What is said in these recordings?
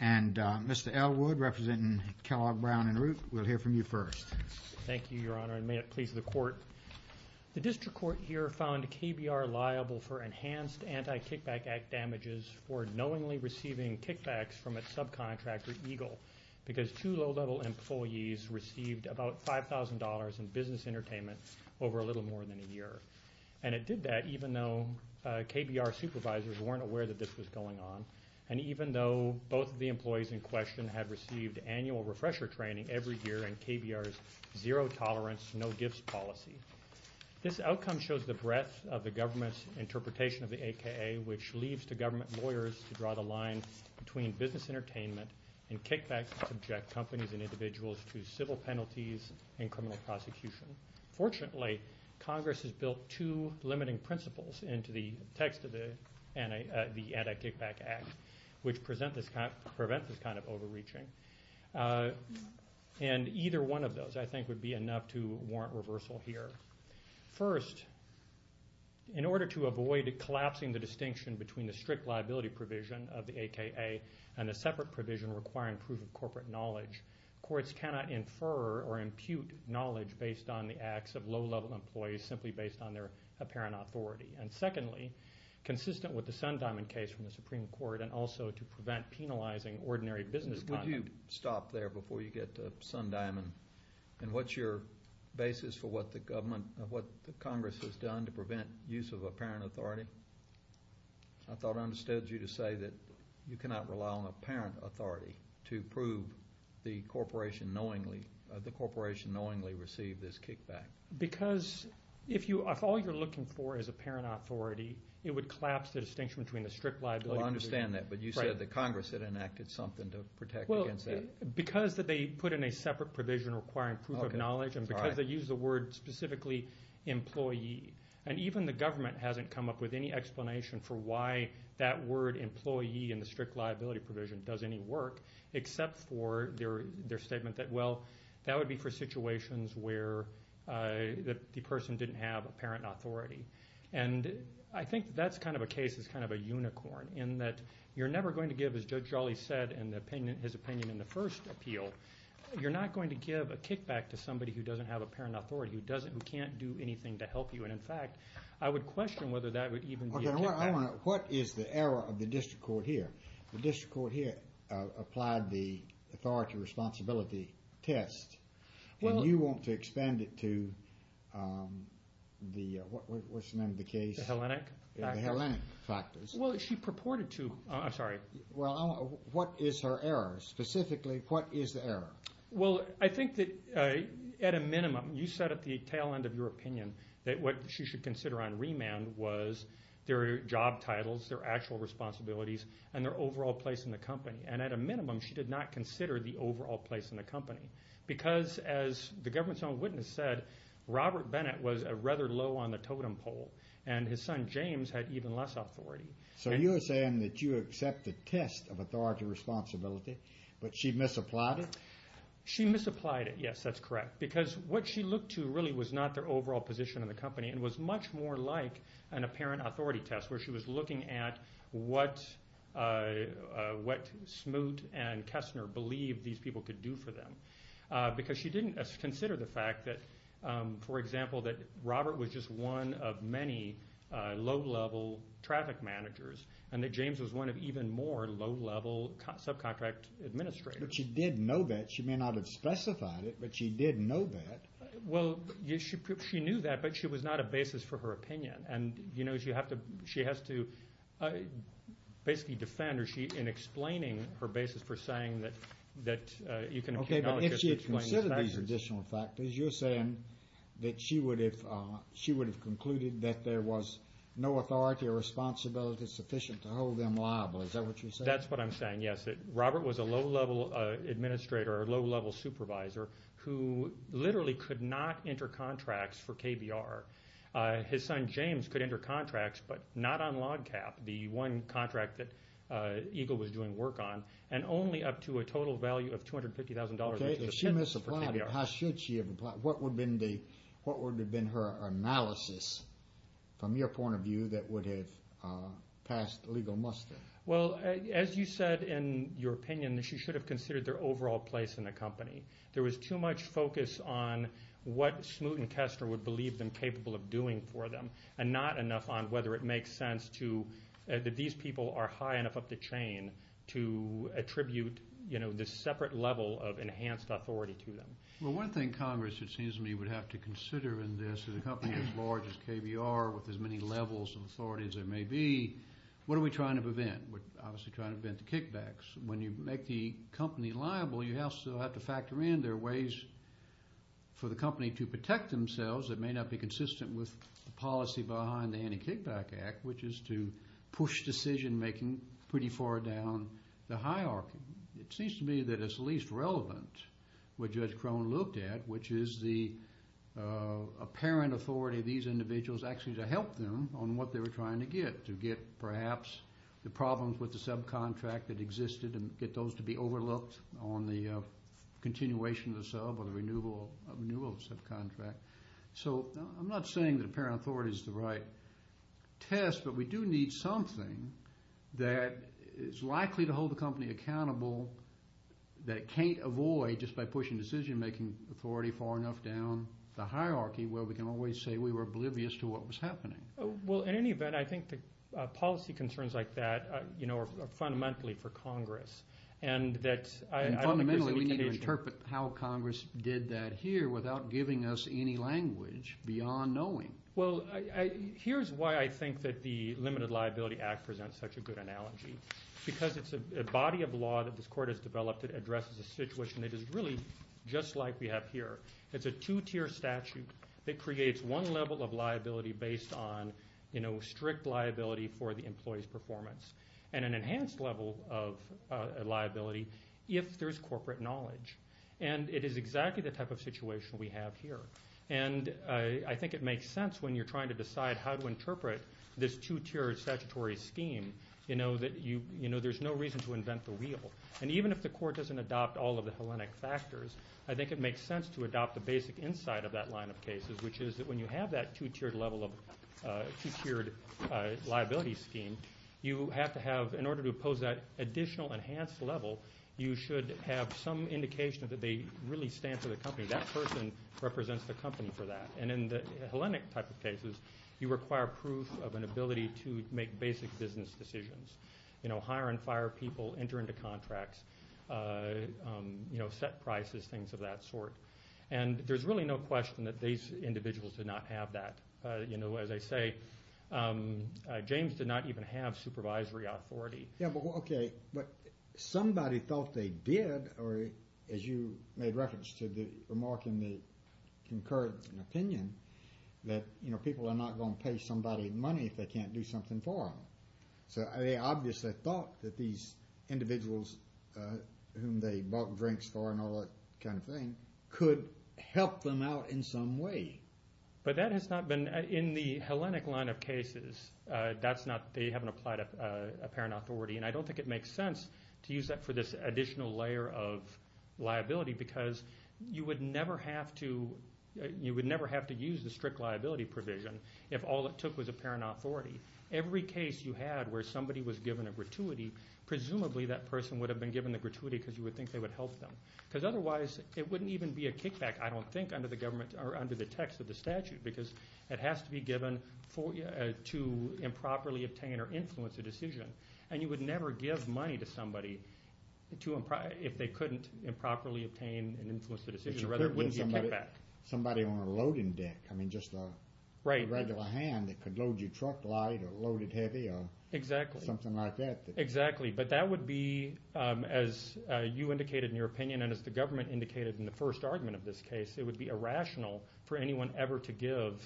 and Mr. L. Wood, representing Kellogg Brown & Root, we'll hear from you first. Thank you, Your Honor, and may it please the Court. The district court here found KBR liable for enhanced Anti-Kickback Act damages for knowingly receiving kickbacks from its subcontractor, Eagle, because two low-level employees received about $5,000 in business entertainment over a little more than a year. And it did that even though KBR supervisors weren't aware that this was going on and even though both of the employees in question had received annual refresher training every year in KBR's zero-tolerance, no-gifts policy. This outcome shows the breadth of the government's interpretation of the AKA, which leaves the government lawyers to draw the line between business entertainment and kickbacks to subject companies and individuals to civil penalties and criminal prosecution. Fortunately, Congress has built two limiting principles into the text of the Anti-Kickback Act, which prevent this kind of overreaching. And either one of those, I think, would be enough to warrant reversal here. First, in order to avoid collapsing the distinction between the strict liability provision of the AKA and the separate provision requiring proof of corporate knowledge, courts cannot infer or impute knowledge based on the acts of low-level employees simply based on their apparent authority. And secondly, consistent with the Sundiamond case from the Supreme Court and also to prevent penalizing ordinary business conduct. Would you stop there before you get to Sundiamond? And what's your basis for what the Congress has done to prevent use of apparent authority? I thought I understood you to say that you cannot rely on apparent authority to prove the corporation knowingly received this kickback. Because if all you're looking for is apparent authority, it would collapse the distinction between the strict liability. Well, I understand that. But you said that Congress had enacted something to protect against that. Well, because they put in a separate provision requiring proof of knowledge and because they use the word specifically employee, and even the government hasn't come up with any explanation for why that word employee in the strict liability provision does any work except for their statement that, well, that would be for situations where the person didn't have apparent authority. And I think that's kind of a case that's kind of a unicorn in that you're never going to give, as Judge Jolly said in his opinion in the first appeal, you're not going to give a kickback to somebody who doesn't have apparent authority, who can't do anything to help you. And, in fact, I would question whether that would even be a kickback. What is the error of the district court here? The district court here applied the authority responsibility test, and you want to expand it to the what's the name of the case? The Hellenic factors. The Hellenic factors. Well, she purported to. Well, what is her error? Specifically, what is the error? Well, I think that, at a minimum, you said at the tail end of your opinion that what she should consider on remand was their job titles, their actual responsibilities, and their overall place in the company. And, at a minimum, she did not consider the overall place in the company. Because, as the government's own witness said, Robert Bennett was rather low on the totem pole, and his son James had even less authority. So you're saying that you accept the test of authority responsibility, but she misapplied it? She misapplied it. Yes, that's correct. Because what she looked to really was not their overall position in the company, and was much more like an apparent authority test, where she was looking at what Smoot and Kessner believed these people could do for them. Because she didn't consider the fact that, for example, that Robert was just one of many low-level traffic managers, and that James was one of even more low-level subcontract administrators. But she did know that. She may not have specified it, but she did know that. Well, she knew that, but she was not a basis for her opinion. And, you know, she has to basically defend her in explaining her basis for saying that you can acknowledge this. Okay, but if she had considered these additional factors, you're saying that she would have concluded that there was no authority or responsibility sufficient to hold them liable. Is that what you're saying? That's what I'm saying, yes. That Robert was a low-level administrator or a low-level supervisor who literally could not enter contracts for KBR. His son James could enter contracts, but not on log cap, the one contract that Eagle was doing work on, and only up to a total value of $250,000. Okay, if she misapplied it, how should she have applied it? What would have been her analysis, from your point of view, that would have passed legal muster? Well, as you said in your opinion, she should have considered their overall place in the company. There was too much focus on what Smoot and Kestner would believe them capable of doing for them, and not enough on whether it makes sense that these people are high enough up the chain to attribute, you know, this separate level of enhanced authority to them. Well, one thing Congress, it seems to me, would have to consider in this, as large as KBR, with as many levels of authority as there may be, what are we trying to prevent? We're obviously trying to prevent the kickbacks. When you make the company liable, you also have to factor in there are ways for the company to protect themselves that may not be consistent with the policy behind the Anti-Kickback Act, which is to push decision-making pretty far down the hierarchy. It seems to me that it's least relevant what Judge Crone looked at, which is the apparent authority of these individuals actually to help them on what they were trying to get, to get perhaps the problems with the subcontract that existed and get those to be overlooked on the continuation of the sub or the renewal of the subcontract. So I'm not saying that apparent authority is the right test, but we do need something that is likely to hold the company accountable, that it can't avoid just by pushing decision-making authority far enough down the hierarchy where we can always say we were oblivious to what was happening. Well, in any event, I think the policy concerns like that are fundamentally for Congress. And fundamentally, we need to interpret how Congress did that here without giving us any language beyond knowing. Well, here's why I think that the Limited Liability Act presents such a good analogy. Because it's a body of law that this Court has developed that addresses a situation that is really just like we have here. It's a two-tier statute that creates one level of liability based on strict liability for the employee's performance and an enhanced level of liability if there's corporate knowledge. And it is exactly the type of situation we have here. And I think it makes sense when you're trying to decide how to interpret this two-tier statutory scheme, that there's no reason to invent the wheel. And even if the Court doesn't adopt all of the Hellenic factors, I think it makes sense to adopt the basic insight of that line of cases, which is that when you have that two-tiered liability scheme, you have to have, in order to oppose that additional enhanced level, you should have some indication that they really stand for the company. That person represents the company for that. And in the Hellenic type of cases, you require proof of an ability to make basic business decisions. You know, hire and fire people, enter into contracts, set prices, things of that sort. And there's really no question that these individuals did not have that. As I say, James did not even have supervisory authority. But somebody thought they did, or as you made reference to the remark in the concurrent opinion, that people are not going to pay somebody money if they can't do something for them. So they obviously thought that these individuals whom they bought drinks for and all that kind of thing could help them out in some way. But that has not been in the Hellenic line of cases. They haven't applied a parent authority. And I don't think it makes sense to use that for this additional layer of liability, because you would never have to use the strict liability provision if all it took was a parent authority. Every case you had where somebody was given a gratuity, presumably that person would have been given the gratuity because you would think they would help them. Because otherwise it wouldn't even be a kickback, I don't think, under the text of the statute, because it has to be given to improperly obtain or influence a decision. And you would never give money to somebody if they couldn't improperly obtain and influence the decision, or rather it wouldn't be a kickback. Somebody on a loading deck, I mean just a regular hand that could load your truck light or load it heavy or something like that. Exactly, but that would be, as you indicated in your opinion, and as the government indicated in the first argument of this case, it would be irrational for anyone ever to give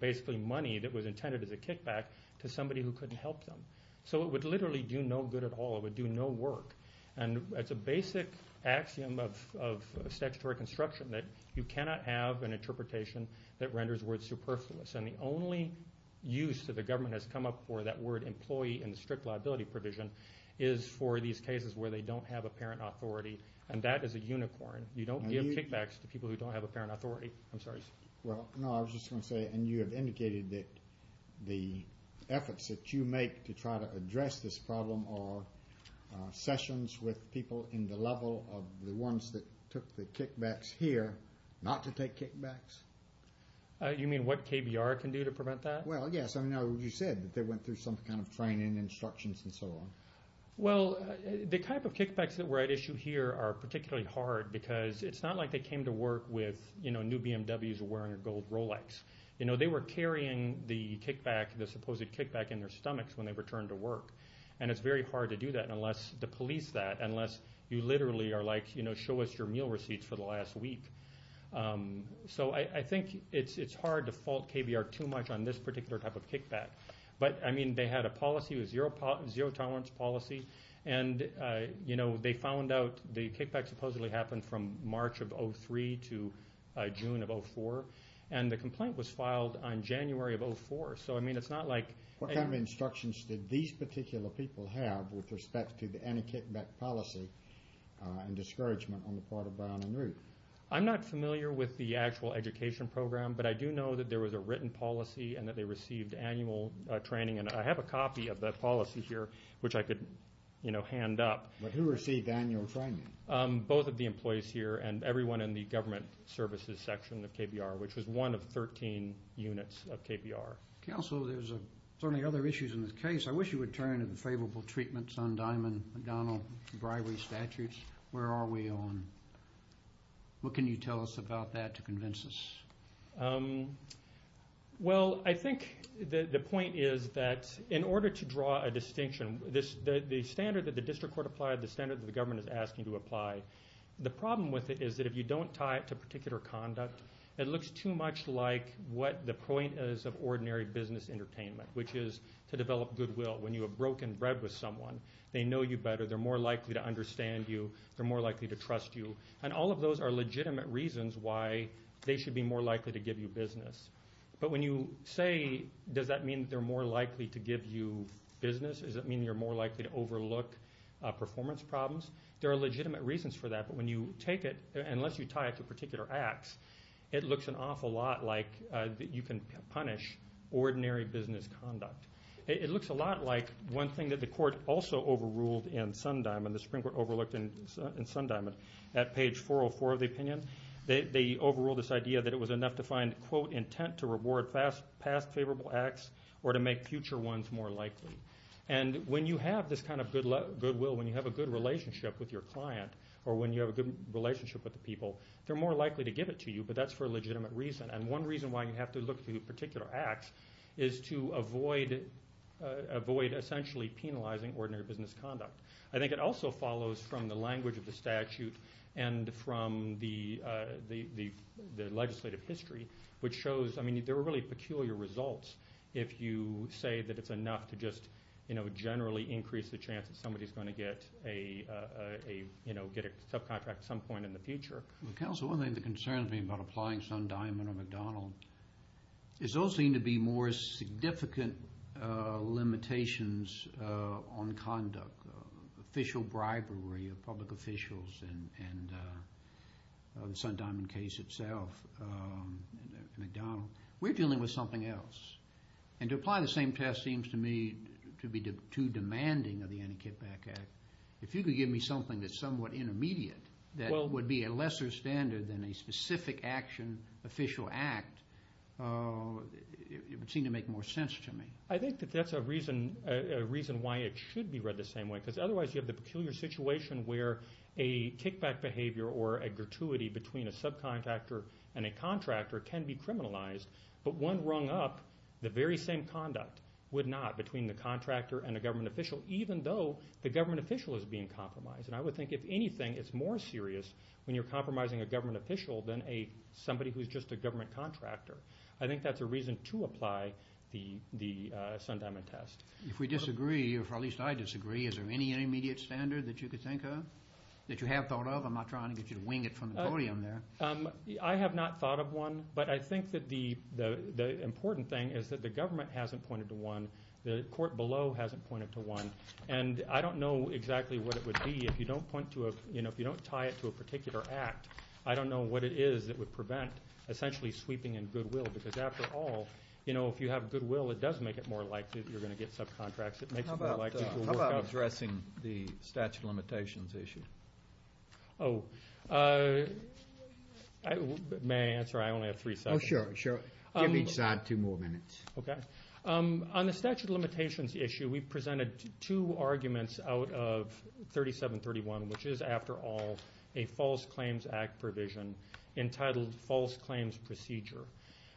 basically money that was intended as a kickback to somebody who couldn't help them. So it would literally do no good at all. It would do no work. And it's a basic axiom of statutory construction that you cannot have an interpretation that renders words superfluous. And the only use that the government has come up for that word employee in the strict liability provision is for these cases where they don't have a parent authority, and that is a unicorn. You don't give kickbacks to people who don't have a parent authority. I'm sorry. Well, no, I was just going to say, and you have indicated that the efforts that you make to try to address this problem are sessions with people in the level of the ones that took the kickbacks here not to take kickbacks. You mean what KBR can do to prevent that? Well, yes, I know you said that they went through some kind of training, instructions, and so on. Well, the type of kickbacks that were at issue here are particularly hard because it's not like they came to work with new BMWs wearing a gold Rolex. They were carrying the supposed kickback in their stomachs when they returned to work, and it's very hard to do that, to police that, unless you literally are like, show us your meal receipts for the last week. So I think it's hard to fault KBR too much on this particular type of kickback. But, I mean, they had a policy, a zero-tolerance policy, and they found out the kickback supposedly happened from March of 2003 to June of 2004, and the complaint was filed on January of 2004. So, I mean, it's not like- What kind of instructions did these particular people have with respect to any kickback policy and discouragement on the part of Brown and Root? I'm not familiar with the actual education program, but I do know that there was a written policy and that they received annual training, and I have a copy of that policy here, which I could hand up. Who received annual training? Both of the employees here and everyone in the government services section of KBR, which was one of 13 units of KBR. Counsel, there's certainly other issues in this case. I wish you would turn to the favorable treatments on Diamond McDonnell bribery statutes. Where are we on-? What can you tell us about that to convince us? Well, I think the point is that in order to draw a distinction, the standard that the district court applied, the standard that the government is asking to apply, the problem with it is that if you don't tie it to particular conduct, it looks too much like what the point is of ordinary business entertainment, which is to develop goodwill. When you have broken bread with someone, they know you better. They're more likely to understand you. They're more likely to trust you. And all of those are legitimate reasons why they should be more likely to give you business. But when you say, does that mean they're more likely to give you business? Does that mean you're more likely to overlook performance problems? There are legitimate reasons for that. But when you take it, unless you tie it to particular acts, it looks an awful lot like you can punish ordinary business conduct. It looks a lot like one thing that the court also overruled in Sundiamond, the Supreme Court overlooked in Sundiamond, at page 404 of the opinion. They overruled this idea that it was enough to find, quote, intent to reward past favorable acts or to make future ones more likely. And when you have this kind of goodwill, when you have a good relationship with your client or when you have a good relationship with the people, they're more likely to give it to you, but that's for a legitimate reason. And one reason why you have to look to particular acts is to avoid essentially penalizing ordinary business conduct. I think it also follows from the language of the statute and from the legislative history, which shows there are really peculiar results if you say that it's enough to just generally increase the chance that somebody is going to get a subcontract at some point in the future. Counsel, one of the things that concerns me about applying Sundiamond or McDonald is those seem to be more significant limitations on conduct, official bribery of public officials and the Sundiamond case itself and McDonald. We're dealing with something else. And to apply the same test seems to me to be too demanding of the Anticipate Act. If you could give me something that's somewhat intermediate that would be a lesser standard than a specific action, official act, it would seem to make more sense to me. I think that that's a reason why it should be read the same way, because otherwise you have the peculiar situation where a kickback behavior or a gratuity between a subcontractor and a contractor can be criminalized, but one rung up, the very same conduct would not between the contractor and a government official, even though the government official is being compromised. And I would think, if anything, it's more serious when you're compromising a government official than somebody who's just a government contractor. I think that's a reason to apply the Sundiamond test. If we disagree, or at least I disagree, is there any intermediate standard that you could think of, that you have thought of? I'm not trying to get you to wing it from the podium there. I have not thought of one, but I think that the important thing is that the government hasn't pointed to one. The court below hasn't pointed to one. And I don't know exactly what it would be if you don't tie it to a particular act. I don't know what it is that would prevent essentially sweeping and goodwill, because after all, you know, if you have goodwill, it does make it more likely that you're going to get subcontracts. It makes it more likely to work out. How about addressing the statute of limitations issue? Oh, may I answer? I only have three seconds. Oh, sure, sure. Give each side two more minutes. Okay. On the statute of limitations issue, we presented two arguments out of 3731, which is, after all, a False Claims Act provision entitled False Claims Procedure.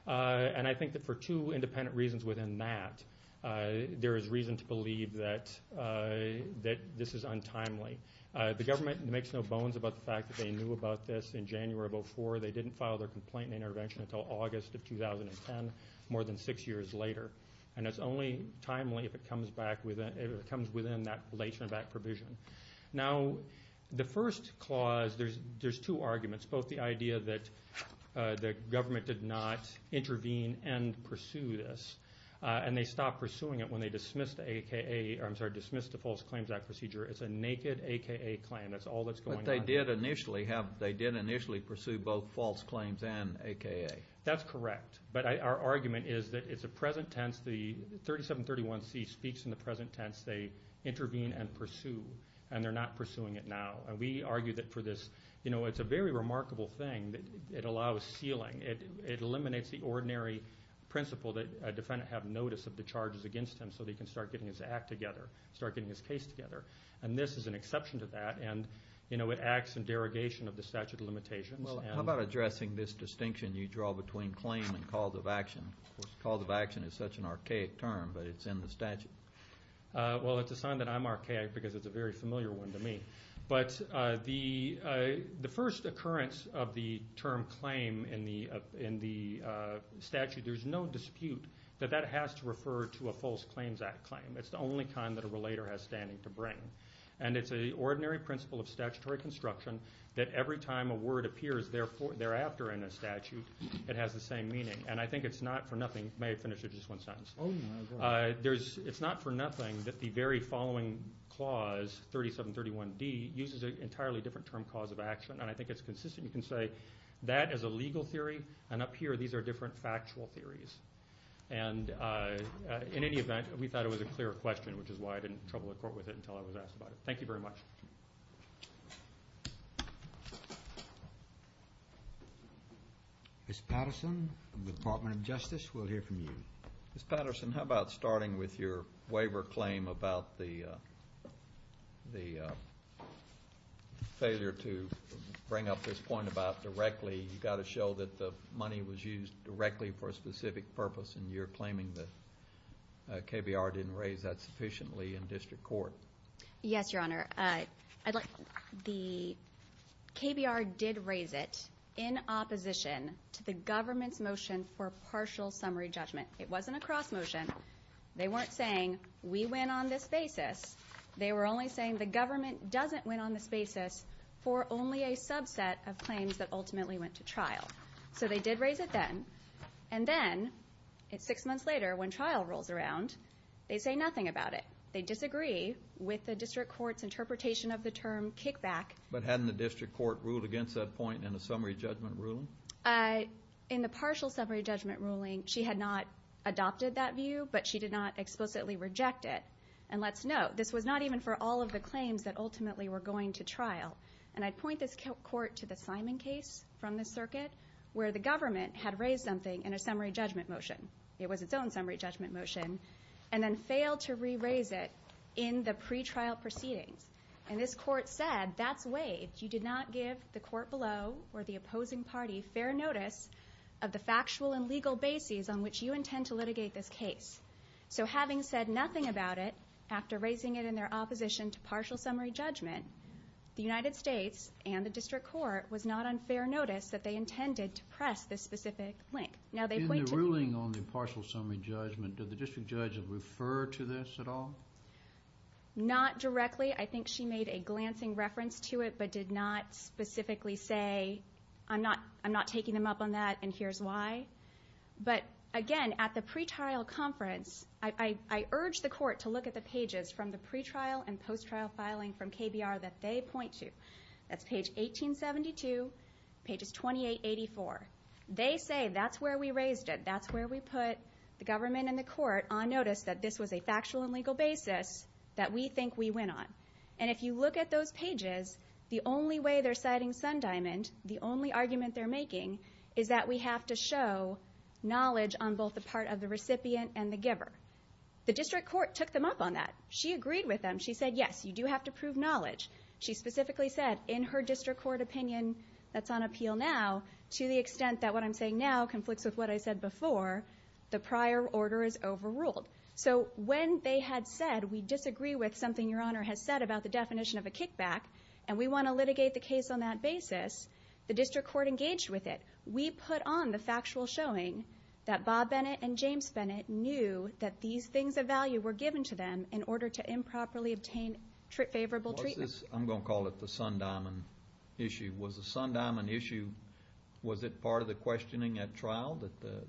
And I think that for two independent reasons within that, there is reason to believe that this is untimely. The government makes no bones about the fact that they knew about this in January of 2004. They didn't file their complaint and intervention until August of 2010, more than six years later. And it's only timely if it comes back within that relation of that provision. Now, the first clause, there's two arguments. Both the idea that the government did not intervene and pursue this, and they stopped pursuing it when they dismissed the False Claims Act procedure. It's a naked AKA claim. That's all that's going on. But they did initially pursue both false claims and AKA. That's correct. But our argument is that it's a present tense. The 3731C speaks in the present tense. They intervene and pursue, and they're not pursuing it now. And we argue that for this, you know, it's a very remarkable thing. It allows sealing. It eliminates the ordinary principle that a defendant have notice of the charges against him so they can start getting his act together, start getting his case together. And this is an exception to that. And, you know, it acts in derogation of the statute of limitations. How about addressing this distinction you draw between claim and cause of action? Cause of action is such an archaic term, but it's in the statute. Well, it's a sign that I'm archaic because it's a very familiar one to me. But the first occurrence of the term claim in the statute, there's no dispute that that has to refer to a False Claims Act claim. And it's an ordinary principle of statutory construction that every time a word appears thereafter in a statute, it has the same meaning. And I think it's not for nothing. May I finish with just one sentence? It's not for nothing that the very following clause, 3731D, uses an entirely different term cause of action. And I think it's consistent. You can say that is a legal theory, and up here these are different factual theories. And in any event, we thought it was a clear question, which is why I didn't trouble the court with it until I was asked about it. Thank you very much. Ms. Patterson, Department of Justice, we'll hear from you. Ms. Patterson, how about starting with your waiver claim about the failure to bring up this point about directly. You've got to show that the money was used directly for a specific purpose, and you're claiming that KBR didn't raise that sufficiently in district court. Yes, Your Honor. The KBR did raise it in opposition to the government's motion for partial summary judgment. It wasn't a cross motion. They weren't saying we win on this basis. They were only saying the government doesn't win on this basis for only a subset of claims that ultimately went to trial. So they did raise it then. And then six months later, when trial rolls around, they say nothing about it. They disagree with the district court's interpretation of the term kickback. But hadn't the district court ruled against that point in the summary judgment ruling? In the partial summary judgment ruling, she had not adopted that view, but she did not explicitly reject it. And let's note, this was not even for all of the claims that ultimately were going to trial. where the government had raised something in a summary judgment motion. It was its own summary judgment motion, and then failed to re-raise it in the pretrial proceedings. And this court said, that's waived. You did not give the court below or the opposing party fair notice of the factual and legal bases on which you intend to litigate this case. So having said nothing about it after raising it in their opposition to partial summary judgment, the United States and the district court was not on fair notice that they intended to press this specific link. In the ruling on the partial summary judgment, did the district judge refer to this at all? Not directly. I think she made a glancing reference to it, but did not specifically say, I'm not taking them up on that, and here's why. But again, at the pretrial conference, I urged the court to look at the pages from the pretrial and post-trial filing from KBR that they point to. That's page 1872, pages 2884. They say, that's where we raised it. That's where we put the government and the court on notice that this was a factual and legal basis that we think we went on. And if you look at those pages, the only way they're citing Sundiamond, the only argument they're making, is that we have to show knowledge on both the part of the recipient and the giver. The district court took them up on that. She agreed with them. She said, yes, you do have to prove knowledge. She specifically said, in her district court opinion that's on appeal now, to the extent that what I'm saying now conflicts with what I said before, the prior order is overruled. So when they had said, we disagree with something Your Honor has said about the definition of a kickback, and we want to litigate the case on that basis, the district court engaged with it. We put on the factual showing that Bob Bennett and James Bennett knew that these things of value were given to them in order to improperly obtain favorable treatment. I'm going to call it the Sundiamond issue. Was the Sundiamond issue, was it part of the questioning at trial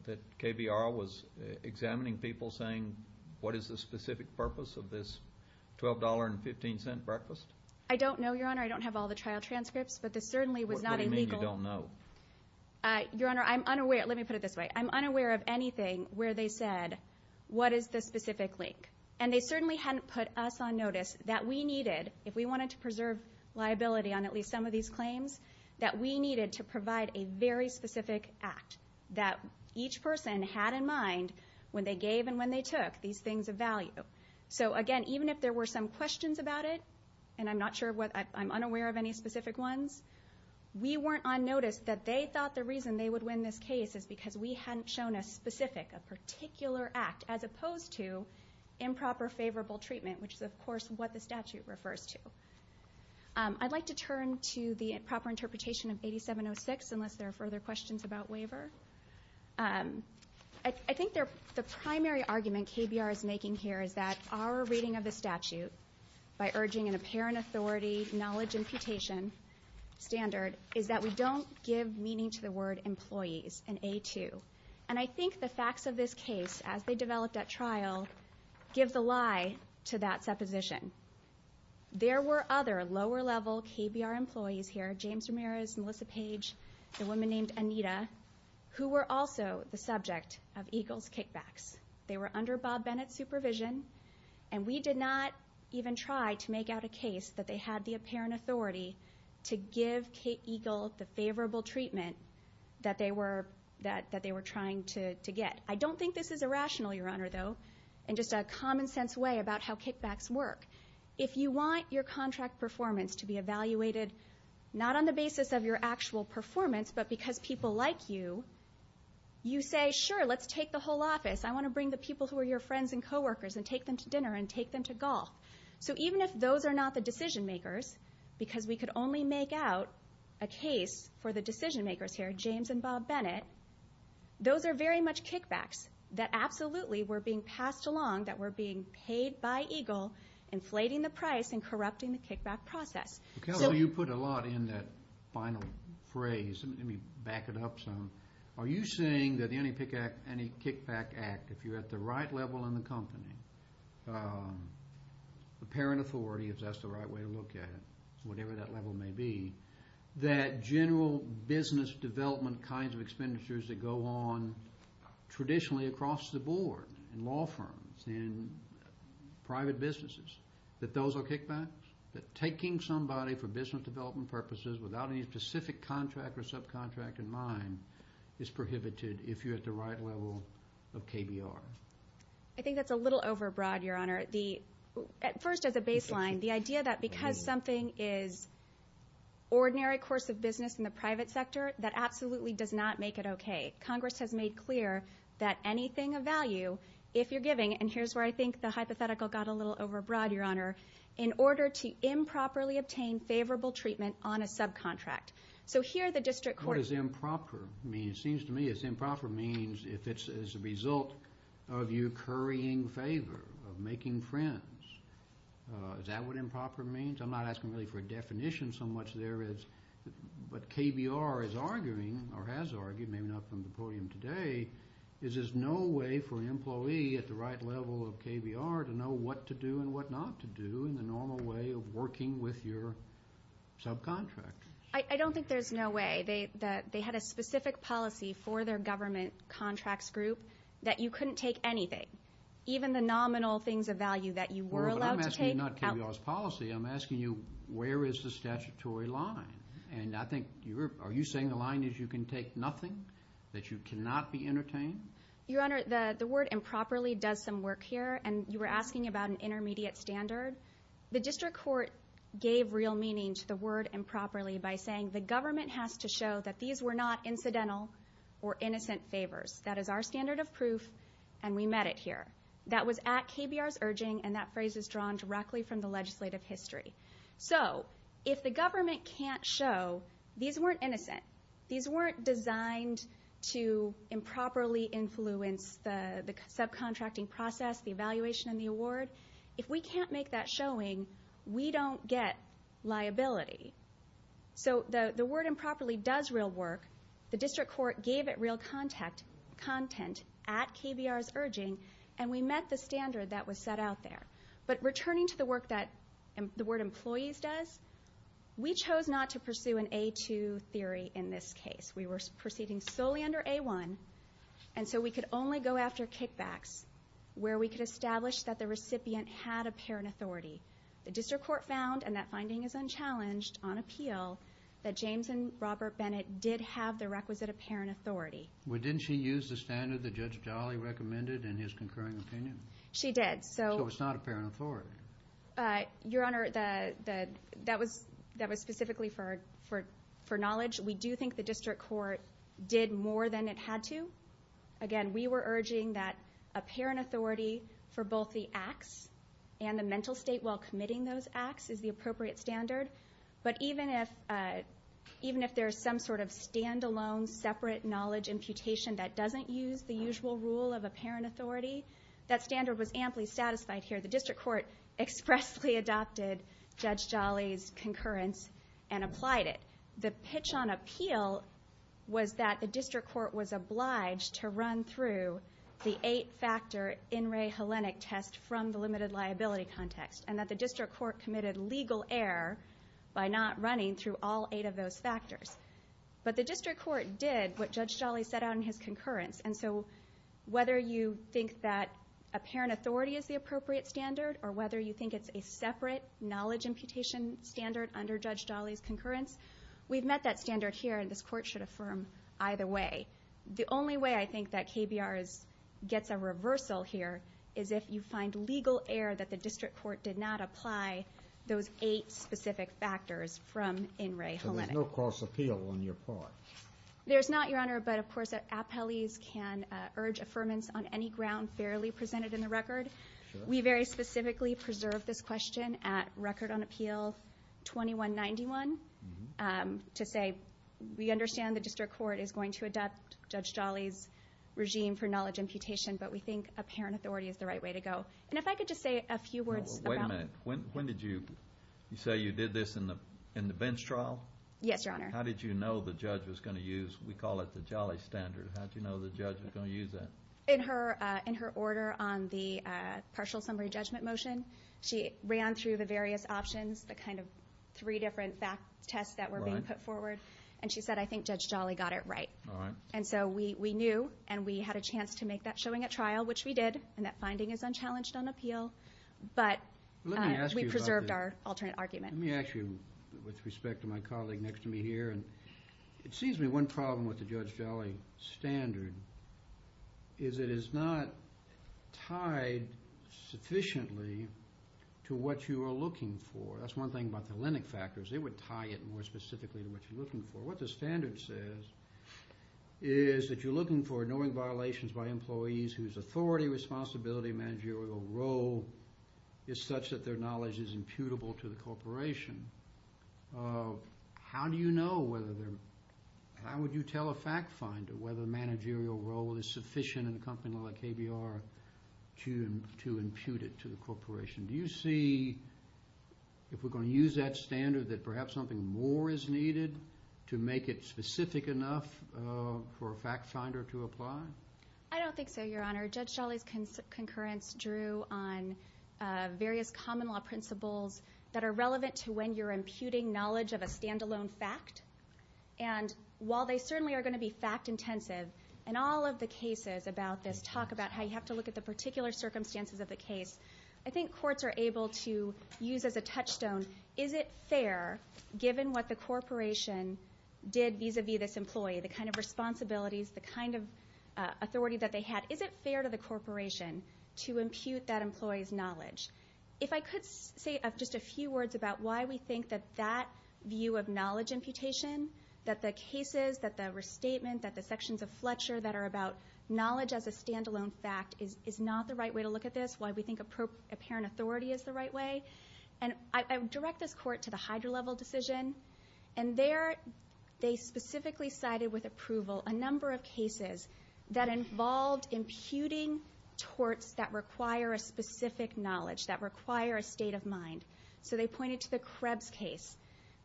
that KBR was examining people saying, what is the specific purpose of this $12.15 breakfast? I don't know, Your Honor. I don't have all the trial transcripts, but this certainly was not a legal. What do you mean you don't know? Your Honor, I'm unaware. Let me put it this way. I'm unaware of anything where they said, what is the specific link? And they certainly hadn't put us on notice that we needed, if we wanted to preserve liability on at least some of these claims, that we needed to provide a very specific act that each person had in mind when they gave and when they took these things of value. So again, even if there were some questions about it, and I'm not sure what, I'm unaware of any specific ones, we weren't on notice that they thought the reason they would win this case is because we hadn't shown a specific, a particular act, as opposed to improper favorable treatment, which is, of course, what the statute refers to. I'd like to turn to the proper interpretation of 8706, unless there are further questions about waiver. I think the primary argument KBR is making here is that our reading of the statute, by urging an apparent authority, knowledge, and putation standard, is that we don't give meaning to the word employees in A2. And I think the facts of this case, as they developed at trial, give the lie to that supposition. There were other lower-level KBR employees here, James Ramirez, Melissa Page, a woman named Anita, who were also the subject of EGLE's kickbacks. They were under Bob Bennett's supervision, and we did not even try to make out a case that they had the apparent authority to give Kate EGLE the favorable treatment that they were trying to get. I don't think this is irrational, Your Honor, though, in just a common-sense way about how kickbacks work. If you want your contract performance to be evaluated, not on the basis of your actual performance, but because people like you, you say, sure, let's take the whole office. I want to bring the people who are your friends and coworkers and take them to dinner and take them to golf. So even if those are not the decision-makers, because we could only make out a case for the decision-makers here, James and Bob Bennett, those are very much kickbacks that absolutely were being passed along, that were being paid by EGLE, inflating the price and corrupting the kickback process. So you put a lot in that final phrase. Let me back it up some. Are you saying that the Any Kickback Act, if you're at the right level in the company, the apparent authority, if that's the right way to look at it, whatever that level may be, that general business development kinds of expenditures that go on traditionally across the board, in law firms, in private businesses, that those are kickbacks? That taking somebody for business development purposes without any specific contract or subcontract in mind is prohibited if you're at the right level of KBR? I think that's a little overbroad, Your Honor. First, as a baseline, the idea that because something is ordinary course of business in the private sector, that absolutely does not make it okay. Congress has made clear that anything of value, if you're giving, and here's where I think the hypothetical got a little overbroad, Your Honor. In order to improperly obtain favorable treatment on a subcontract. So here the district court- What does improper mean? It seems to me as improper means if it's as a result of you currying favor, of making friends. Is that what improper means? I'm not asking really for a definition so much there is. But KBR is arguing, or has argued, maybe not from the podium today, is there's no way for an employee at the right level of KBR to know what to do and what not to do in the normal way of working with your subcontractors. I don't think there's no way. They had a specific policy for their government contracts group that you couldn't take anything. Even the nominal things of value that you were allowed to take- Well, but I'm asking you not KBR's policy. I'm asking you where is the statutory line. And I think, are you saying the line is you can take nothing? That you cannot be entertained? Your Honor, the word improperly does some work here, and you were asking about an intermediate standard. The district court gave real meaning to the word improperly by saying the government has to show that these were not incidental or innocent favors. That is our standard of proof, and we met it here. That was at KBR's urging, and that phrase is drawn directly from the legislative history. So if the government can't show these weren't innocent, these weren't designed to improperly influence the subcontracting process, the evaluation, and the award, if we can't make that showing, we don't get liability. So the word improperly does real work. The district court gave it real content at KBR's urging, and we met the standard that was set out there. But returning to the work that the word employees does, we chose not to pursue an A2 theory in this case. We were proceeding solely under A1, and so we could only go after kickbacks where we could establish that the recipient had apparent authority. The district court found, and that finding is unchallenged on appeal, that James and Robert Bennett did have the requisite apparent authority. Well, didn't she use the standard that Judge Jolly recommended in his concurring opinion? She did. So it's not apparent authority. Your Honor, that was specifically for knowledge. We do think the district court did more than it had to. Again, we were urging that apparent authority for both the acts and the mental state while committing those acts is the appropriate standard. But even if there's some sort of standalone, separate knowledge imputation that doesn't use the usual rule of apparent authority, that standard was amply satisfied here. The district court expressly adopted Judge Jolly's concurrence and applied it. The pitch on appeal was that the district court was obliged to run through the eight-factor In Re Hellenic test from the limited liability context and that the district court committed legal error by not running through all eight of those factors. But the district court did what Judge Jolly set out in his concurrence. And so whether you think that apparent authority is the appropriate standard or whether you think it's a separate knowledge imputation standard under Judge Jolly's concurrence, we've met that standard here and this court should affirm either way. The only way I think that KBR gets a reversal here is if you find legal error that the district court did not apply those eight specific factors from In Re Hellenic. So there's no cross appeal on your part? There's not, Your Honor, but, of course, appellees can urge affirmance on any ground fairly presented in the record. We very specifically preserved this question at Record on Appeal 2191 to say we understand the district court is going to adopt Judge Jolly's regime for knowledge imputation, but we think apparent authority is the right way to go. And if I could just say a few words about... Well, wait a minute. When did you say you did this in the Vince trial? Yes, Your Honor. How did you know the judge was going to use... We call it the Jolly standard. How did you know the judge was going to use that? In her order on the partial summary judgment motion, she ran through the various options, the kind of three different fact tests that were being put forward, and she said, I think Judge Jolly got it right. All right. And so we knew, and we had a chance to make that showing at trial, which we did, and that finding is unchallenged on appeal. But we preserved our alternate argument. Let me ask you, with respect to my colleague next to me here, and it seems to me one problem with the Judge Jolly standard is it is not tied sufficiently to what you are looking for. That's one thing about the Lennox factors. They would tie it more specifically to what you're looking for. What the standard says is that you're looking for knowing violations by employees whose authority, responsibility, managerial role is such that their knowledge is imputable to the corporation. How do you know whether they're—how would you tell a fact finder whether the managerial role is sufficient in a company like KBR to impute it to the corporation? Do you see, if we're going to use that standard, that perhaps something more is needed to make it specific enough for a fact finder to apply? I don't think so, Your Honor. Judge Jolly's concurrence drew on various common law principles that are relevant to when you're imputing knowledge of a stand-alone fact. And while they certainly are going to be fact-intensive, and all of the cases about this talk about how you have to look at the particular circumstances of the case, I think courts are able to use as a touchstone, is it fair, given what the corporation did vis-à-vis this employee, the kind of responsibilities, the kind of authority that they had, is it fair to the corporation to impute that employee's knowledge? If I could say just a few words about why we think that that view of knowledge imputation, that the cases, that the restatement, that the sections of Fletcher that are about knowledge as a stand-alone fact is not the right way to look at this, why we think apparent authority is the right way. And I would direct this Court to the Hyder-Level decision, and there they specifically cited with approval a number of cases that involved imputing torts that require a specific knowledge, that require a state of mind. So they pointed to the Krebs case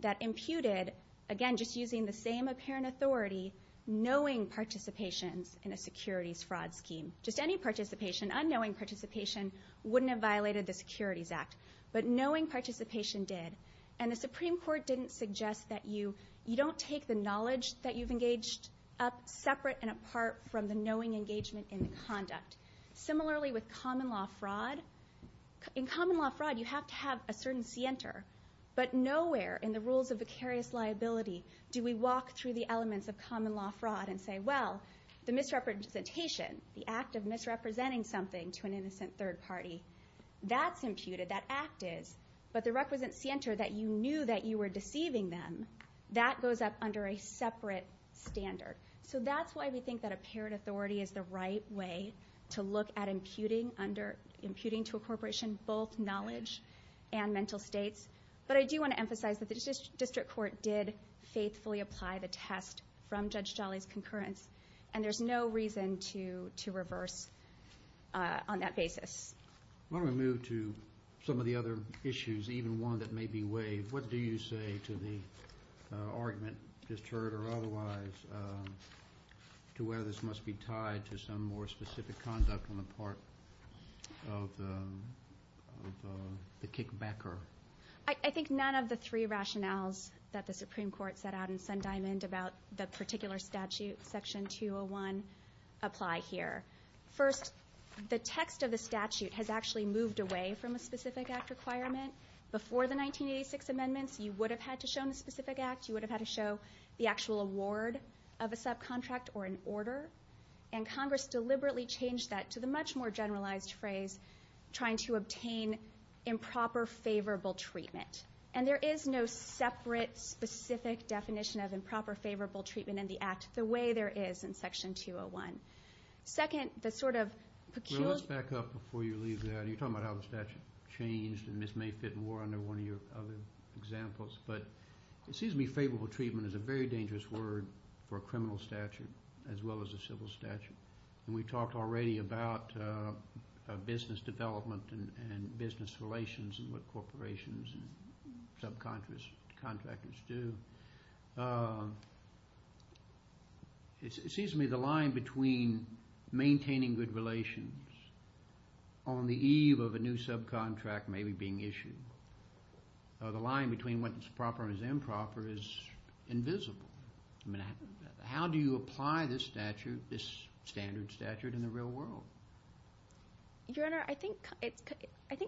that imputed, again, just using the same apparent authority, knowing participations in a securities fraud scheme. Just any participation, unknowing participation, wouldn't have violated the Securities Act. But knowing participation did. And the Supreme Court didn't suggest that you don't take the knowledge that you've engaged up separate and apart from the knowing engagement in the conduct. Similarly with common-law fraud, in common-law fraud you have to have a certain scienter. But nowhere in the rules of vicarious liability do we walk through the elements of common-law fraud and say, well, the misrepresentation, the act of misrepresenting something to an innocent third party, that's imputed, that act is. But the requisite scienter that you knew that you were deceiving them, that goes up under a separate standard. So that's why we think that apparent authority is the right way to look at imputing to a corporation both knowledge and mental states. But I do want to emphasize that the district court did faithfully apply the test from Judge Jolly's concurrence, and there's no reason to reverse on that basis. I want to move to some of the other issues, even one that may be waived. What do you say to the argument, just heard or otherwise, to whether this must be tied to some more specific conduct on the part of the kickbacker? I think none of the three rationales that the Supreme Court set out in Sundiamond about the particular statute, Section 201, apply here. First, the text of the statute has actually moved away from a specific act requirement. Before the 1986 amendments, you would have had to show in the specific act, you would have had to show the actual award of a subcontract or an order, and Congress deliberately changed that to the much more generalized phrase, trying to obtain improper favorable treatment. And there is no separate specific definition of improper favorable treatment in the act the way there is in Section 201. Well, let's back up before you leave that. You're talking about how the statute changed, and this may fit more under one of your other examples. But it seems to me favorable treatment is a very dangerous word for a criminal statute as well as a civil statute. And we talked already about business development and business relations and what corporations and subcontractors do. It seems to me the line between maintaining good relations on the eve of a new subcontract maybe being issued, the line between what is proper and improper is invisible. I mean, how do you apply this statute, this standard statute, in the real world? Your Honor, I think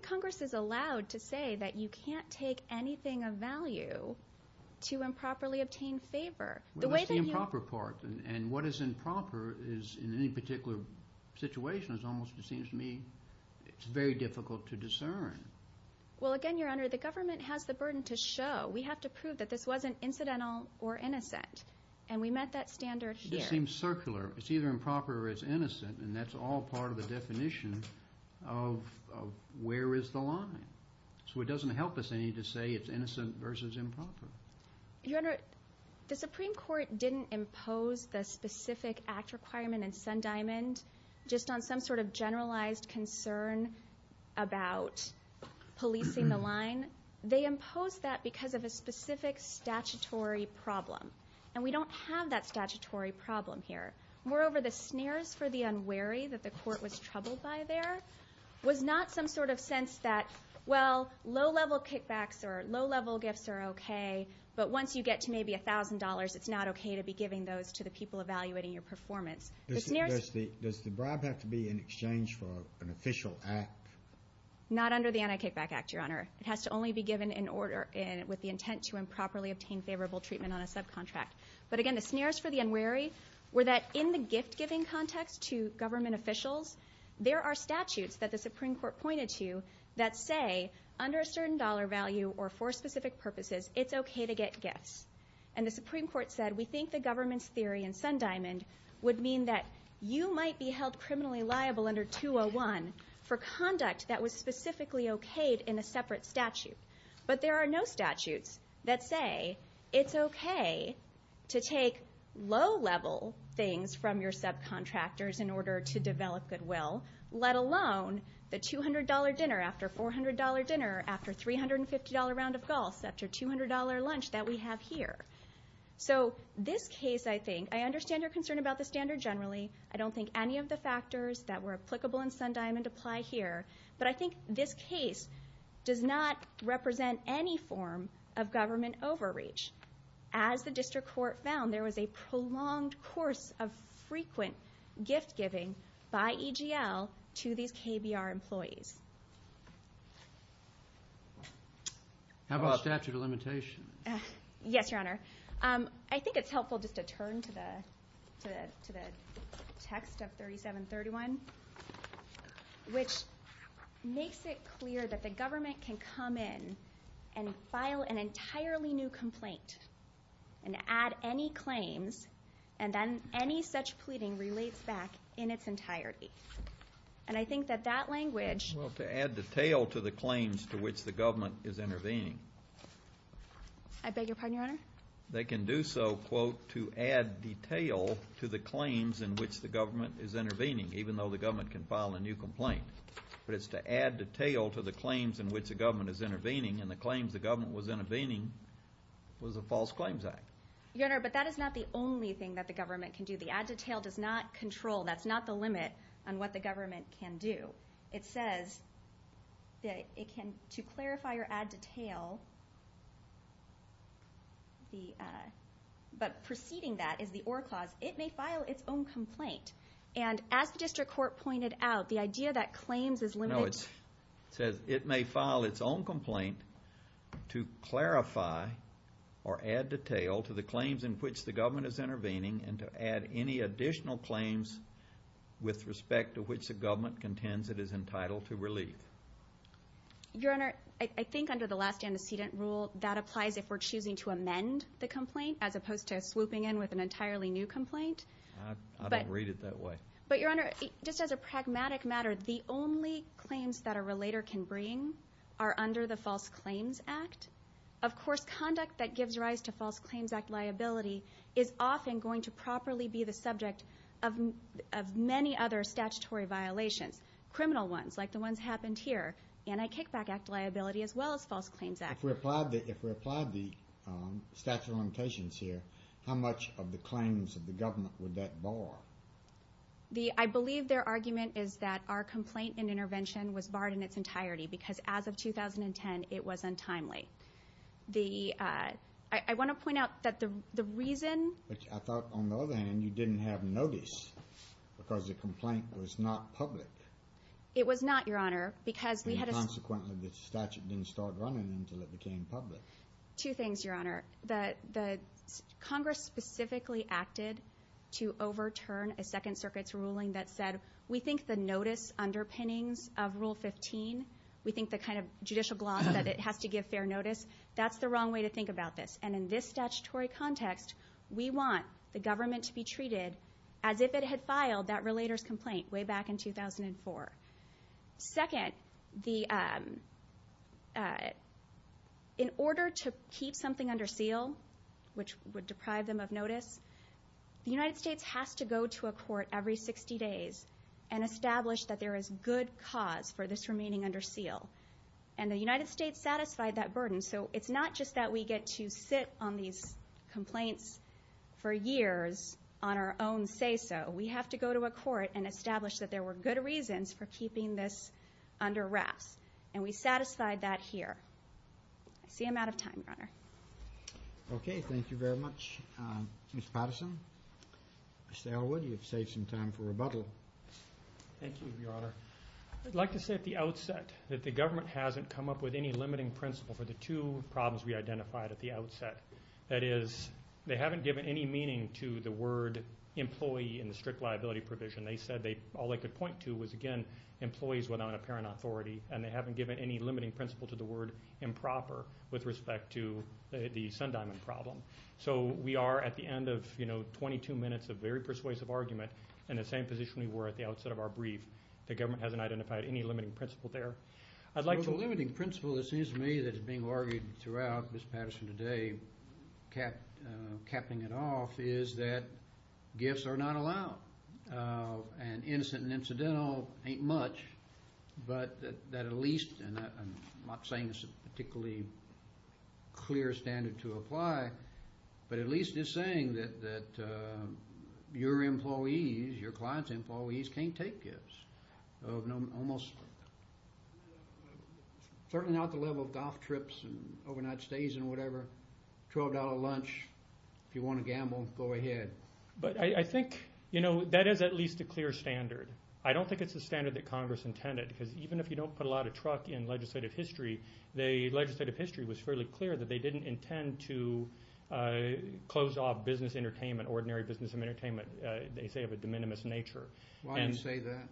Congress is allowed to say that you can't take anything of value to improperly obtain favor. Well, that's the improper part. And what is improper is, in any particular situation, it almost seems to me it's very difficult to discern. Well, again, Your Honor, the government has the burden to show. We have to prove that this wasn't incidental or innocent. And we met that standard here. This seems circular. It's either improper or it's innocent, and that's all part of the definition of where is the line. So it doesn't help us any to say it's innocent versus improper. Your Honor, the Supreme Court didn't impose the specific act requirement in Sundiamond just on some sort of generalized concern about policing the line. They imposed that because of a specific statutory problem, and we don't have that statutory problem here. Moreover, the snares for the unwary that the court was troubled by there was not some sort of sense that, well, low-level kickbacks or low-level gifts are okay, but once you get to maybe $1,000, it's not okay to be giving those to the people evaluating your performance. Does the bribe have to be in exchange for an official act? Not under the Anti-Kickback Act, Your Honor. It has to only be given with the intent to improperly obtain favorable treatment on a subcontract. But, again, the snares for the unwary were that in the gift-giving context to government officials, there are statutes that the Supreme Court pointed to that say, under a certain dollar value or for specific purposes, it's okay to get gifts. And the Supreme Court said we think the government's theory in Sundiamond would mean that you might be held criminally liable under 201 for conduct that was specifically okayed in a separate statute. But there are no statutes that say it's okay to take low-level things from your subcontractors in order to develop goodwill, let alone the $200 dinner after $400 dinner after $350 round of golf after $200 lunch that we have here. So this case, I think, I understand your concern about the standard generally. I don't think any of the factors that were applicable in Sundiamond apply here. But I think this case does not represent any form of government overreach. As the district court found, there was a prolonged course of frequent gift-giving by EGL to these KBR employees. How about statute of limitations? Yes, Your Honor. I think it's helpful just to turn to the text of 3731, which makes it clear that the government can come in and file an entirely new complaint and add any claims, and then any such pleading relates back in its entirety. And I think that that language Well, to add detail to the claims to which the government is intervening. I beg your pardon, Your Honor? They can do so, quote, to the claims in which the government is intervening, even though the government can file a new complaint. But it's to add detail to the claims in which the government is intervening, and the claims the government was intervening was a false claims act. Your Honor, but that is not the only thing that the government can do. The add detail does not control. That's not the limit on what the government can do. It says that it can, to clarify or add detail, but preceding that is the or clause. It may file its own complaint. And as the district court pointed out, the idea that claims is limited No, it says it may file its own complaint to clarify or add detail to the claims in which the government is intervening and to add any additional claims with respect to which the government contends it is entitled to relieve. Your Honor, I think under the last antecedent rule, that applies if we're choosing to amend the complaint as opposed to swooping in with an entirely new complaint. I don't read it that way. But, Your Honor, just as a pragmatic matter, the only claims that a relator can bring are under the false claims act. Of course, conduct that gives rise to false claims act liability is often going to properly be the subject of many other statutory violations, criminal ones like the ones happened here, anti-kickback act liability as well as false claims act. If we apply the statute of limitations here, how much of the claims of the government would that bar? I believe their argument is that our complaint and intervention was barred in its entirety because as of 2010, it was untimely. I want to point out that the reason... I thought on the other hand, you didn't have notice because the complaint was not public. It was not, Your Honor, because we had a... And consequently, the statute didn't start running until it became public. Two things, Your Honor. The Congress specifically acted to overturn a Second Circuit's ruling that said we think the notice underpinnings of Rule 15, we think the kind of judicial gloss that it has to give fair notice, that's the wrong way to think about this. And in this statutory context, we want the government to be treated as if it had filed that relator's complaint way back in 2004. Second, in order to keep something under seal, which would deprive them of notice, the United States has to go to a court every 60 days and establish that there is good cause for this remaining under seal. And the United States satisfied that burden, so it's not just that we get to sit on these complaints for years on our own say-so. We have to go to a court and establish that there were good reasons for keeping this under wraps, and we satisfied that here. I see I'm out of time, Your Honor. Okay, thank you very much, Ms. Patterson. Mr. Elwood, you've saved some time for rebuttal. Thank you, Your Honor. I'd like to say at the outset that the government hasn't come up with any limiting principle for the two problems we identified at the outset. That is, they haven't given any meaning to the word employee in the strict liability provision. They said all they could point to was, again, employees without an apparent authority, and they haven't given any limiting principle to the word improper with respect to the Sundiamond problem. So we are at the end of, you know, 22 minutes of very persuasive argument in the same position we were at the outset of our brief. The government hasn't identified any limiting principle there. The limiting principle, it seems to me, that's being argued throughout Ms. Patterson today, capping it off, is that gifts are not allowed. And innocent and incidental ain't much, but that at least, and I'm not saying it's a particularly clear standard to apply, but at least it's saying that your employees, your clients' employees, can't take gifts of almost, certainly not the level of golf trips and overnight stays and whatever, $12 lunch. If you want to gamble, go ahead. But I think, you know, that is at least a clear standard. I don't think it's the standard that Congress intended, because even if you don't put a lot of truck in legislative history, the legislative history was fairly clear that they didn't intend to close off business entertainment, ordinary business and entertainment, they say of a de minimis nature. Why do you say that?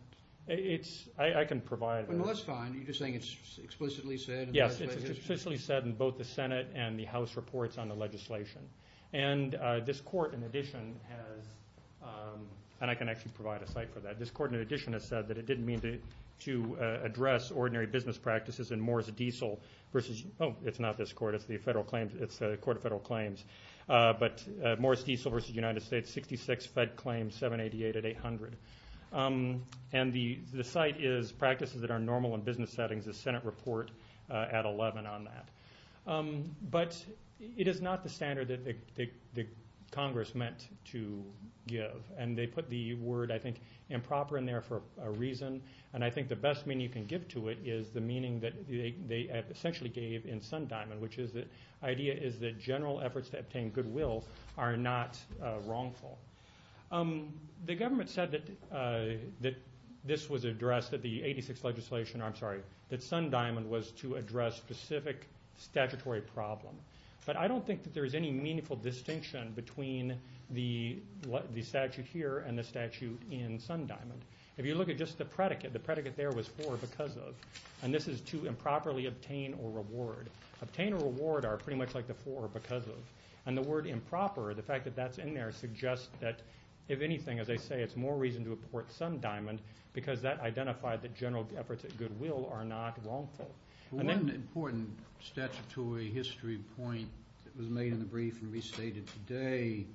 I can provide that. Well, that's fine. Are you just saying it's explicitly said in the legislative history? Yes, it's explicitly said in both the Senate and the House reports on the legislation. And this court, in addition, has, and I can actually provide a cite for that, this court in addition has said that it didn't mean to address ordinary business practices in Morris Diesel versus, oh, it's not this court, it's the federal claims, it's the Court of Federal Claims, but Morris Diesel versus United States, 66 Fed claims, 788 at 800. And the cite is practices that are normal in business settings, the Senate report at 11 on that. But it is not the standard that Congress meant to give, and they put the word, I think, improper in there for a reason. And I think the best meaning you can give to it is the meaning that they essentially gave in Sundiamond, which is the idea is that general efforts to obtain goodwill are not wrongful. The government said that this was addressed, that the 86th legislation, I'm sorry, that Sundiamond was to address specific statutory problem. But I don't think that there's any meaningful distinction between the statute here and the statute in Sundiamond. If you look at just the predicate, the predicate there was for or because of, and this is to improperly obtain or reward. Obtain or reward are pretty much like the for or because of. And the word improper, the fact that that's in there suggests that, if anything, as I say, it's more reason to report Sundiamond because that identified that general efforts at goodwill are not wrongful. One important statutory history point that was made in the brief and restated today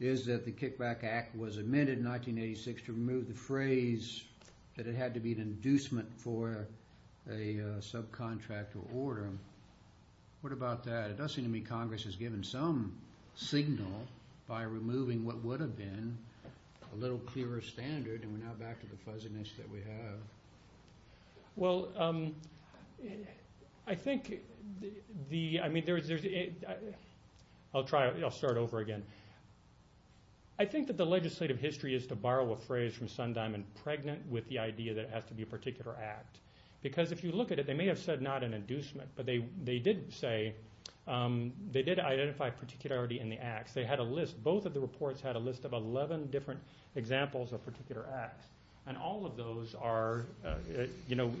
is that the Kickback Act was amended in 1986 to remove the phrase that it had to be an inducement for a subcontractor order. What about that? It does seem to me Congress has given some signal by removing what would have been a little clearer standard, and we're now back to the fuzziness that we have. Well, I think the, I mean, there's, I'll try, I'll start over again. I think that the legislative history is to borrow a phrase from Sundiamond, pregnant with the idea that it has to be a particular act. Because if you look at it, they may have said not an inducement, but they did say, they did identify particularity in the acts. They had a list, both of the reports had a list of 11 different examples of particular acts, and all of those are, you know,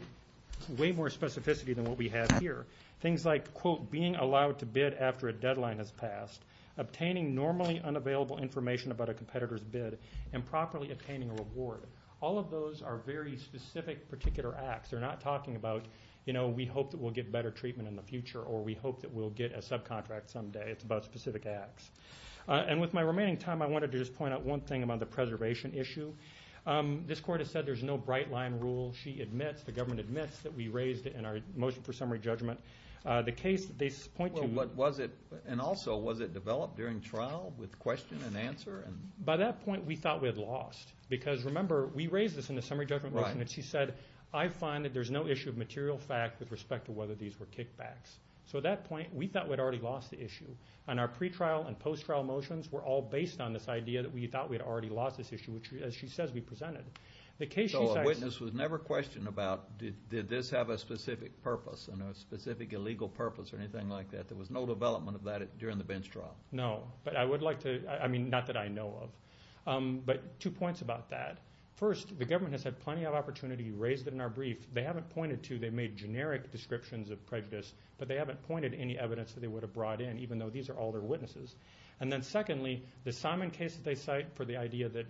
way more specificity than what we have here. Things like, quote, being allowed to bid after a deadline has passed, obtaining normally unavailable information about a competitor's bid, and properly obtaining a reward. All of those are very specific particular acts. They're not talking about, you know, we hope that we'll get better treatment in the future or we hope that we'll get a subcontract some day. It's about specific acts. And with my remaining time, I wanted to just point out one thing about the preservation issue. This court has said there's no bright line rule. She admits, the government admits that we raised it in our motion for summary judgment. The case, they point to- Well, what was it, and also, was it developed during trial with question and answer? By that point, we thought we had lost. Because, remember, we raised this in the summary judgment motion, and she said, I find that there's no issue of material fact with respect to whether these were kickbacks. So at that point, we thought we'd already lost the issue. And our pretrial and post-trial motions were all based on this idea that we thought we'd already lost this issue, which, as she says, we presented. So a witness was never questioned about, did this have a specific purpose, a specific illegal purpose or anything like that. There was no development of that during the bench trial. No. But I would like to, I mean, not that I know of. But two points about that. First, the government has had plenty of opportunity to raise it in our brief. They haven't pointed to, they've made generic descriptions of prejudice, but they haven't pointed to any evidence that they would have brought in, even though these are all their witnesses. And then secondly, the Simon case that they cite for the idea that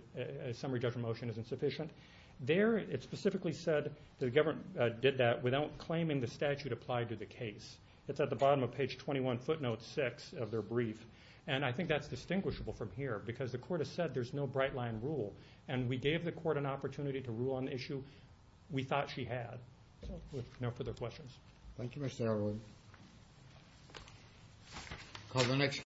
a summary judgment motion is insufficient, there it specifically said the government did that without claiming the statute applied to the case. It's at the bottom of page 21, footnote 6 of their brief. And I think that's distinguishable from here, because the court has said there's no bright-line rule. And we gave the court an opportunity to rule on the issue we thought she had. So with no further questions. Thank you, Mr. Erwin.